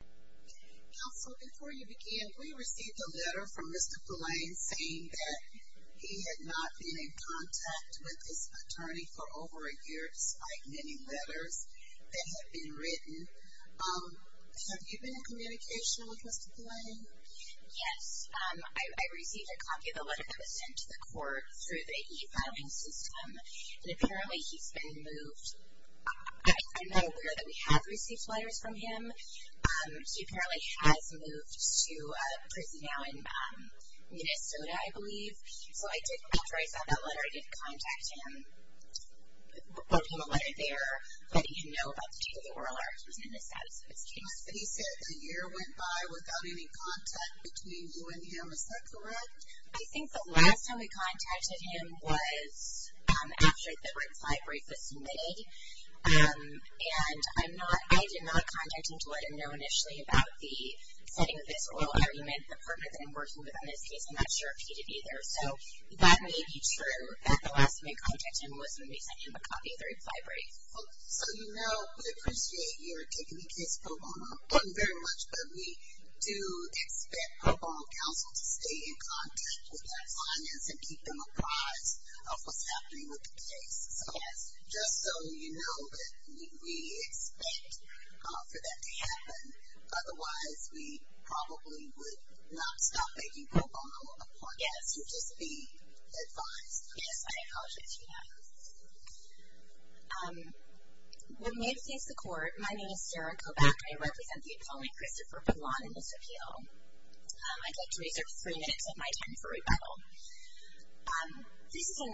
Counsel, before you begin, we received a letter from Mr. Poulain saying that he had not been in contact with his attorney for over a year, despite many letters that had been written. Have you been in communication with Mr. Poulain? Yes. I received a copy of the letter that was sent to the court through the e-filing system, and apparently he's been moved. I'm not aware that we have received letters from him. He apparently has moved to a prison now in Minnesota, I believe. So I did, after I saw that letter, I did contact him, wrote him a letter there, letting him know about the state of the world and the status of his case. He said that a year went by without any contact between you and him. Is that correct? I think the last time we contacted him was after the Red Flag Brief was submitted, and I did not contact him to let him know initially about the setting of this oral argument. The partner that I'm working with on this case, I'm not sure if he did either. So that may be true, that the last time we contacted him was when we sent him a copy of the Red Flag Brief. So you know, we appreciate your taking the case, Poulain, very much, but we do expect Poulain Counsel to stay in contact with that finance and keep them apprised of what's happening with the case. So just so you know, we expect for that to happen. Otherwise, we probably would not stop making pro bono appointments. Yes. You'd just be advised. Yes, I apologize for that. When we have faced the court, my name is Sarah Kobach. I represent the attorney Christopher Poulain in this appeal. I'd like to reserve three minutes of my time for rebuttal. This is a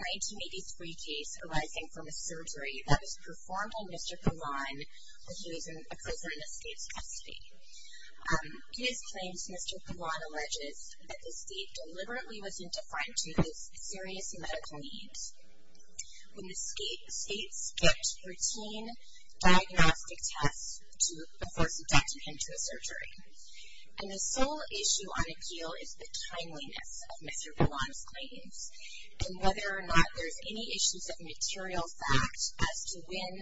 1983 case arising from a surgery that was performed on Mr. Poulain when he was in a prison in the state's custody. In his claims, Mr. Poulain alleges that the state deliberately wasn't defined to his serious medical needs. When the state skipped routine diagnostic tests before subjecting him to a surgery. And the sole issue on appeal is the timeliness of Mr. Poulain's claims and whether or not there's any issues of material fact as to when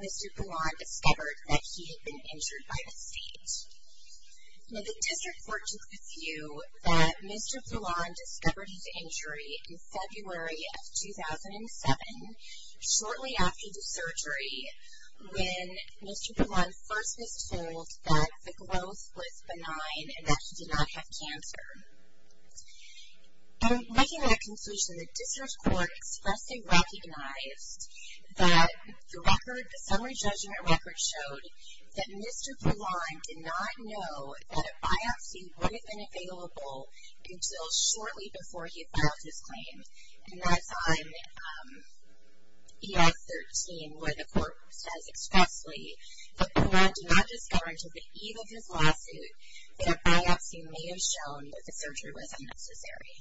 Mr. Poulain discovered that he had been injured by the state. Now the district court took the view that Mr. Poulain discovered his injury in February of 2007, shortly after the surgery when Mr. Poulain first was told that the growth was benign and that he did not have cancer. And making that conclusion, the district court expressly recognized that the record, the summary judgment record showed that Mr. Poulain did not know that a biopsy would have been available until shortly before he had filed his claims. And that's on ES 13 where the court says expressly that Poulain did not discover until the eve of his lawsuit that a biopsy may have shown that the surgery was unnecessary.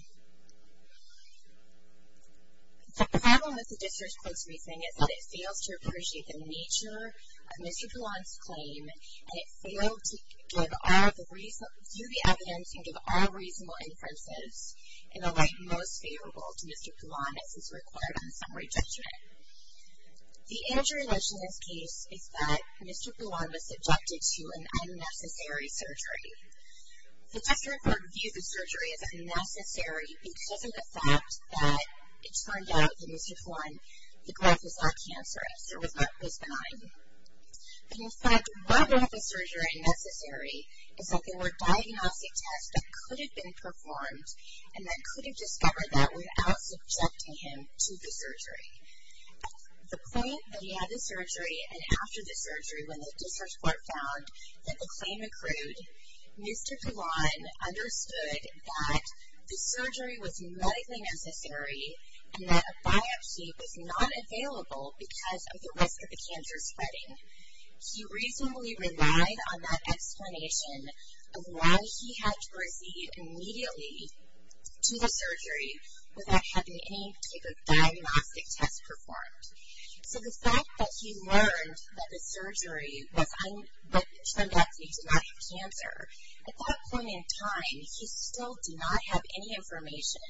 The problem with the district court's reasoning is that it fails to appreciate the nature of Mr. Poulain's claim and it failed to give all the reason, view the evidence and give all reasonable inferences in a way most favorable to Mr. Poulain as is required on the summary judgment. The answer in this case is that Mr. Poulain was subjected to an unnecessary surgery. The district court viewed the surgery as unnecessary because of the fact that it turned out that Mr. Poulain, the growth was not cancerous or was not benign. And in fact, whether the surgery is necessary is that there were diagnostic tests that could have been performed and that could have discovered that without subjecting him to the surgery. At the point that he had the surgery and after the surgery when the district court found that the claim accrued, Mr. Poulain understood that the surgery was medically necessary and that a biopsy was not available because of the risk of the cancer spreading. He reasonably relied on that explanation of why he had to proceed immediately to the surgery without having any type of diagnostic test performed. So the fact that he learned that the surgery turned out to be not cancer, at that point in time he still did not have any information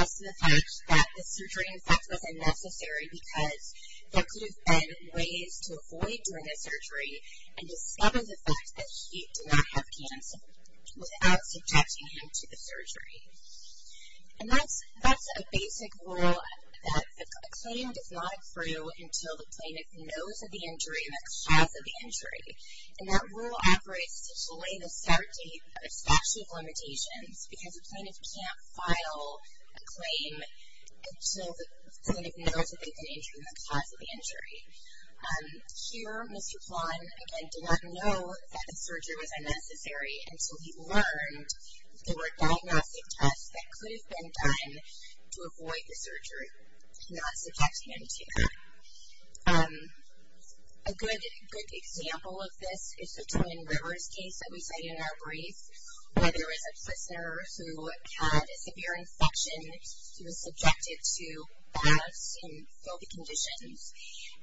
as to the fact that the surgery, in fact, was unnecessary because there could have been ways to avoid doing a surgery and discover the fact that he did not have cancer without subjecting him to the surgery. And that's a basic rule that a claim does not accrue until the plaintiff knows of the injury and the cause of the injury. And that rule operates to delay the start date of statute of limitations because the plaintiff can't file a claim until the plaintiff knows of the injury and the cause of the injury. Here, Mr. Poulain, again, did not know that the surgery was unnecessary until he learned there were diagnostic tests that could have been done to avoid the surgery, not subjecting him to that. A good example of this is the Twin Rivers case that we cited in our brief where there was a prisoner who had a severe infection. He was subjected to baths in filthy conditions,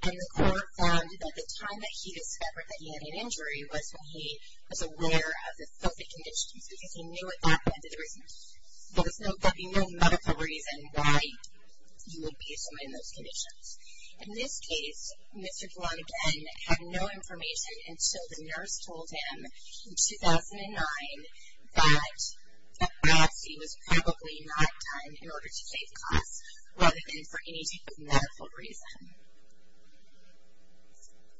and the court found that the time that he discovered that he had an injury was when he was aware of the filthy conditions because he knew at that point that there would be no medical reason why he would be in those conditions. In this case, Mr. Poulain, again, had no information until the nurse told him in 2009 that the biopsy was probably not done in order to save costs rather than for any type of medical reason.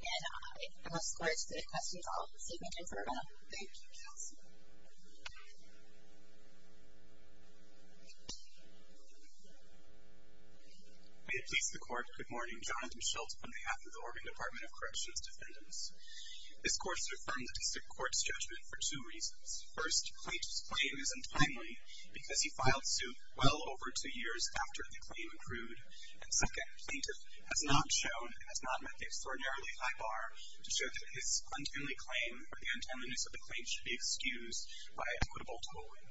And I will escort you to the questions. I'll see if we can confirm. Thank you, counsel. We have pleased the court. Good morning. Jonathan Schultz on behalf of the Oregon Department of Corrections Defendants. This court should affirm the district court's judgment for two reasons. First, plaintiff's claim is untimely because he filed suit well over two years after the claim accrued. And second, plaintiff has not shown and has not met the extraordinarily high bar to show that his untimely claim or the untimeliness of the claim should be excused by equitable tolling.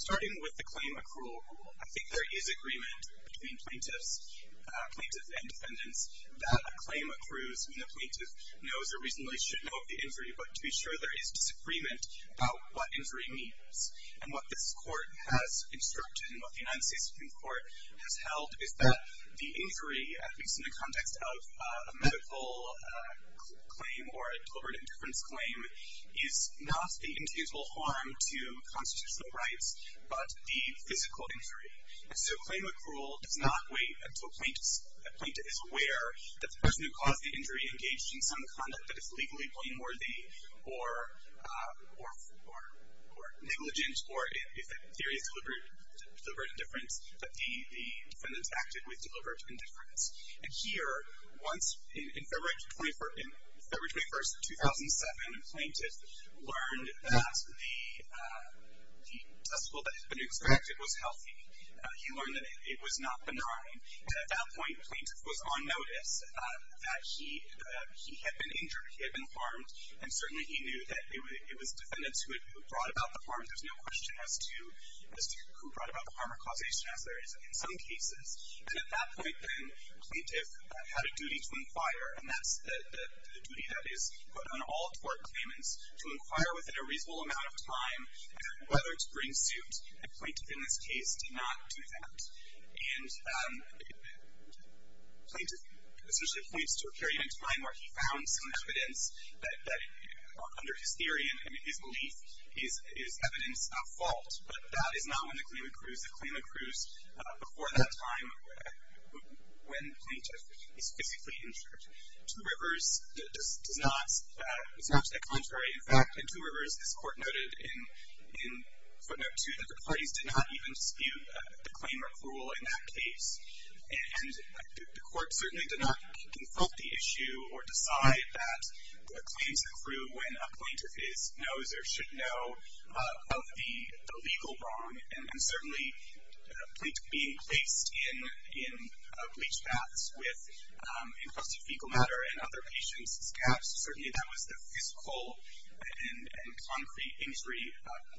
Starting with the claim accrual rule, I think there is agreement between plaintiffs and defendants that a claim accrues when the plaintiff knows or reasonably should know of the injury, but to be sure there is disagreement about what injury means. And what this court has instructed and what the United States Supreme Court has held is that the injury, at least in the context of a medical claim or a deliberate indifference claim, is not the intangible harm to constitutional rights but the physical injury. And so claim accrual does not wait until a plaintiff is aware that the person who caused the injury engaged in some conduct that is legally blameworthy or negligent or, if the theory is deliberate indifference, that the defendant acted with deliberate indifference. And here, once in February 21, 2007, a plaintiff learned that the testicle that had been extracted was healthy. He learned that it was not benign. And at that point, a plaintiff was on notice that he had been injured, he had been harmed, and certainly he knew that it was defendants who had brought about the harm. There's no question as to who brought about the harm or causation, as there is in some cases. And at that point, then, a plaintiff had a duty to inquire, and that's the duty that is put on all tort claimants, to inquire within a reasonable amount of time whether to bring suit. A plaintiff in this case did not do that. And plaintiff essentially points to a period in time where he found some evidence that, under his theory and his belief, is evidence of fault. But that is not when the claim accrues. The claim accrues before that time when the plaintiff is physically injured. Two Rivers does not. It's not to the contrary. In fact, in Two Rivers, this Court noted in footnote 2 that the parties did not even dispute the claim recruital in that case. And the Court certainly did not consult the issue or decide that a claim should accrue when a plaintiff is, knows, or should know of the legal wrong. And certainly, being placed in bleach baths with infested fecal matter and other patients' caps, certainly that was the physical and concrete injury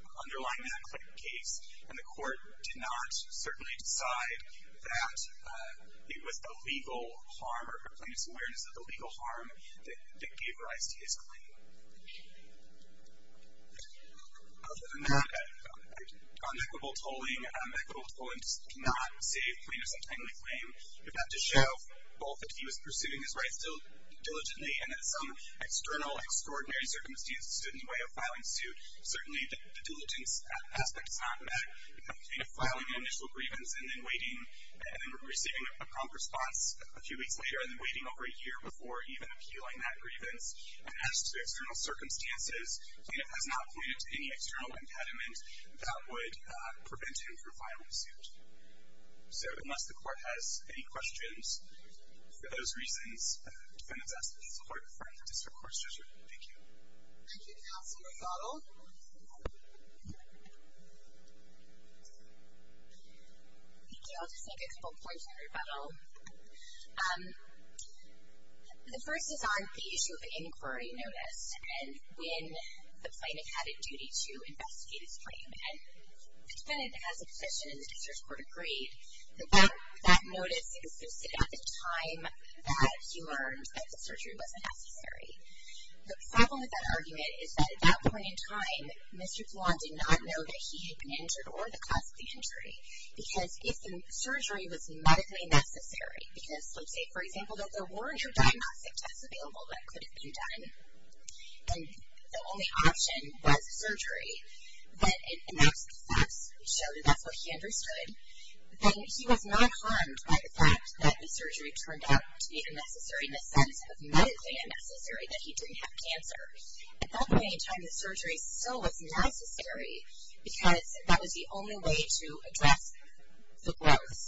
underlying that case. And the Court did not certainly decide that it was a legal harm or a plaintiff's awareness of the legal harm that gave rise to his claim. Other than that, on equitable tolling, equitable tolling does not save plaintiff's untimely claim. But that does show both that he was pursuing his rights diligently and that some external, extraordinary circumstances stood in the way of filing suit. Certainly, the diligence aspect is not met. You know, filing an initial grievance and then waiting, and then receiving a prompt response a few weeks later and then waiting over a year before even appealing that grievance. And as to external circumstances, the plaintiff has not pointed to any external impediment that would prevent him from filing suit. So, unless the Court has any questions, for those reasons, defendants ask that the Court refer him to District Court. Thank you. Thank you. Counsel, rebuttal. Thank you. I'll just make a couple points in rebuttal. The first is on the issue of the inquiry notice and when the plaintiff had a duty to investigate his claim. And the defendant has a position in the District Court agreed that that notice existed at the time that he learned that the surgery was necessary. The problem with that argument is that at that point in time, Mr. Flan did not know that he had been injured or the cause of the injury. Because if the surgery was medically necessary, because let's say, for example, that there were no diagnostic tests available that could have been done, and the only option was surgery, but enough success showed that that's what he understood, then he was not harmed by the fact that the surgery turned out to be unnecessary in the sense of medically unnecessary that he didn't have cancer. At that point in time, the surgery still was necessary because that was the only way to address the growth.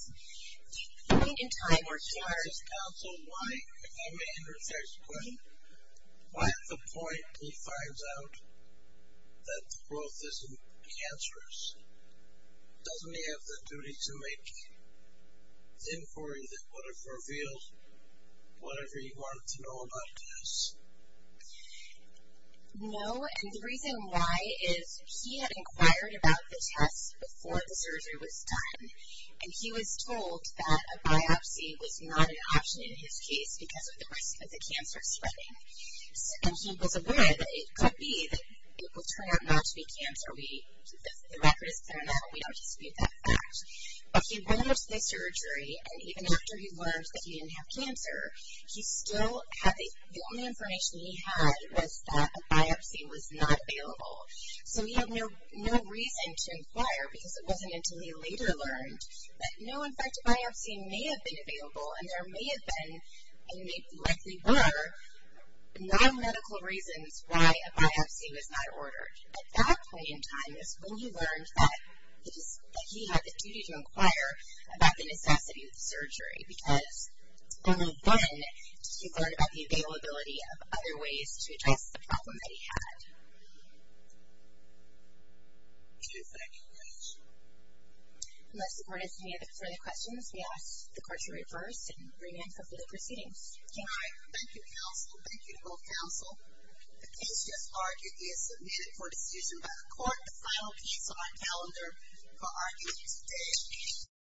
The point in time where he learned... Counsel, why, if I may interject a question, why at the point he finds out that the growth isn't cancerous, doesn't he have the duty to make inquiry that would have revealed whatever he wanted to know about the test? No, and the reason why is he had inquired about the test before the surgery was done, and he was told that a biopsy was not an option in his case because of the risk of the cancer spreading. And he was aware that it could be that it will turn out not to be cancer. The record is clear now. We don't dispute that fact. But he went into the surgery, and even after he learned that he didn't have cancer, the only information he had was that a biopsy was not available. So he had no reason to inquire because it wasn't until he later learned that, no, in fact, a biopsy may have been available, and there may have been, and likely were, non-medical reasons why a biopsy was not ordered. At that point in time is when he learned that he had the duty to inquire about the necessity of the surgery because only then did he learn about the availability of other ways to address the problem that he had. Thank you. Unless the board has any further questions, we ask the court to reverse and re-enter the proceedings. Thank you, counsel. Thank you to both counsel. The case just argued is submitted for decision by the court. The final piece on our calendar for arguing today.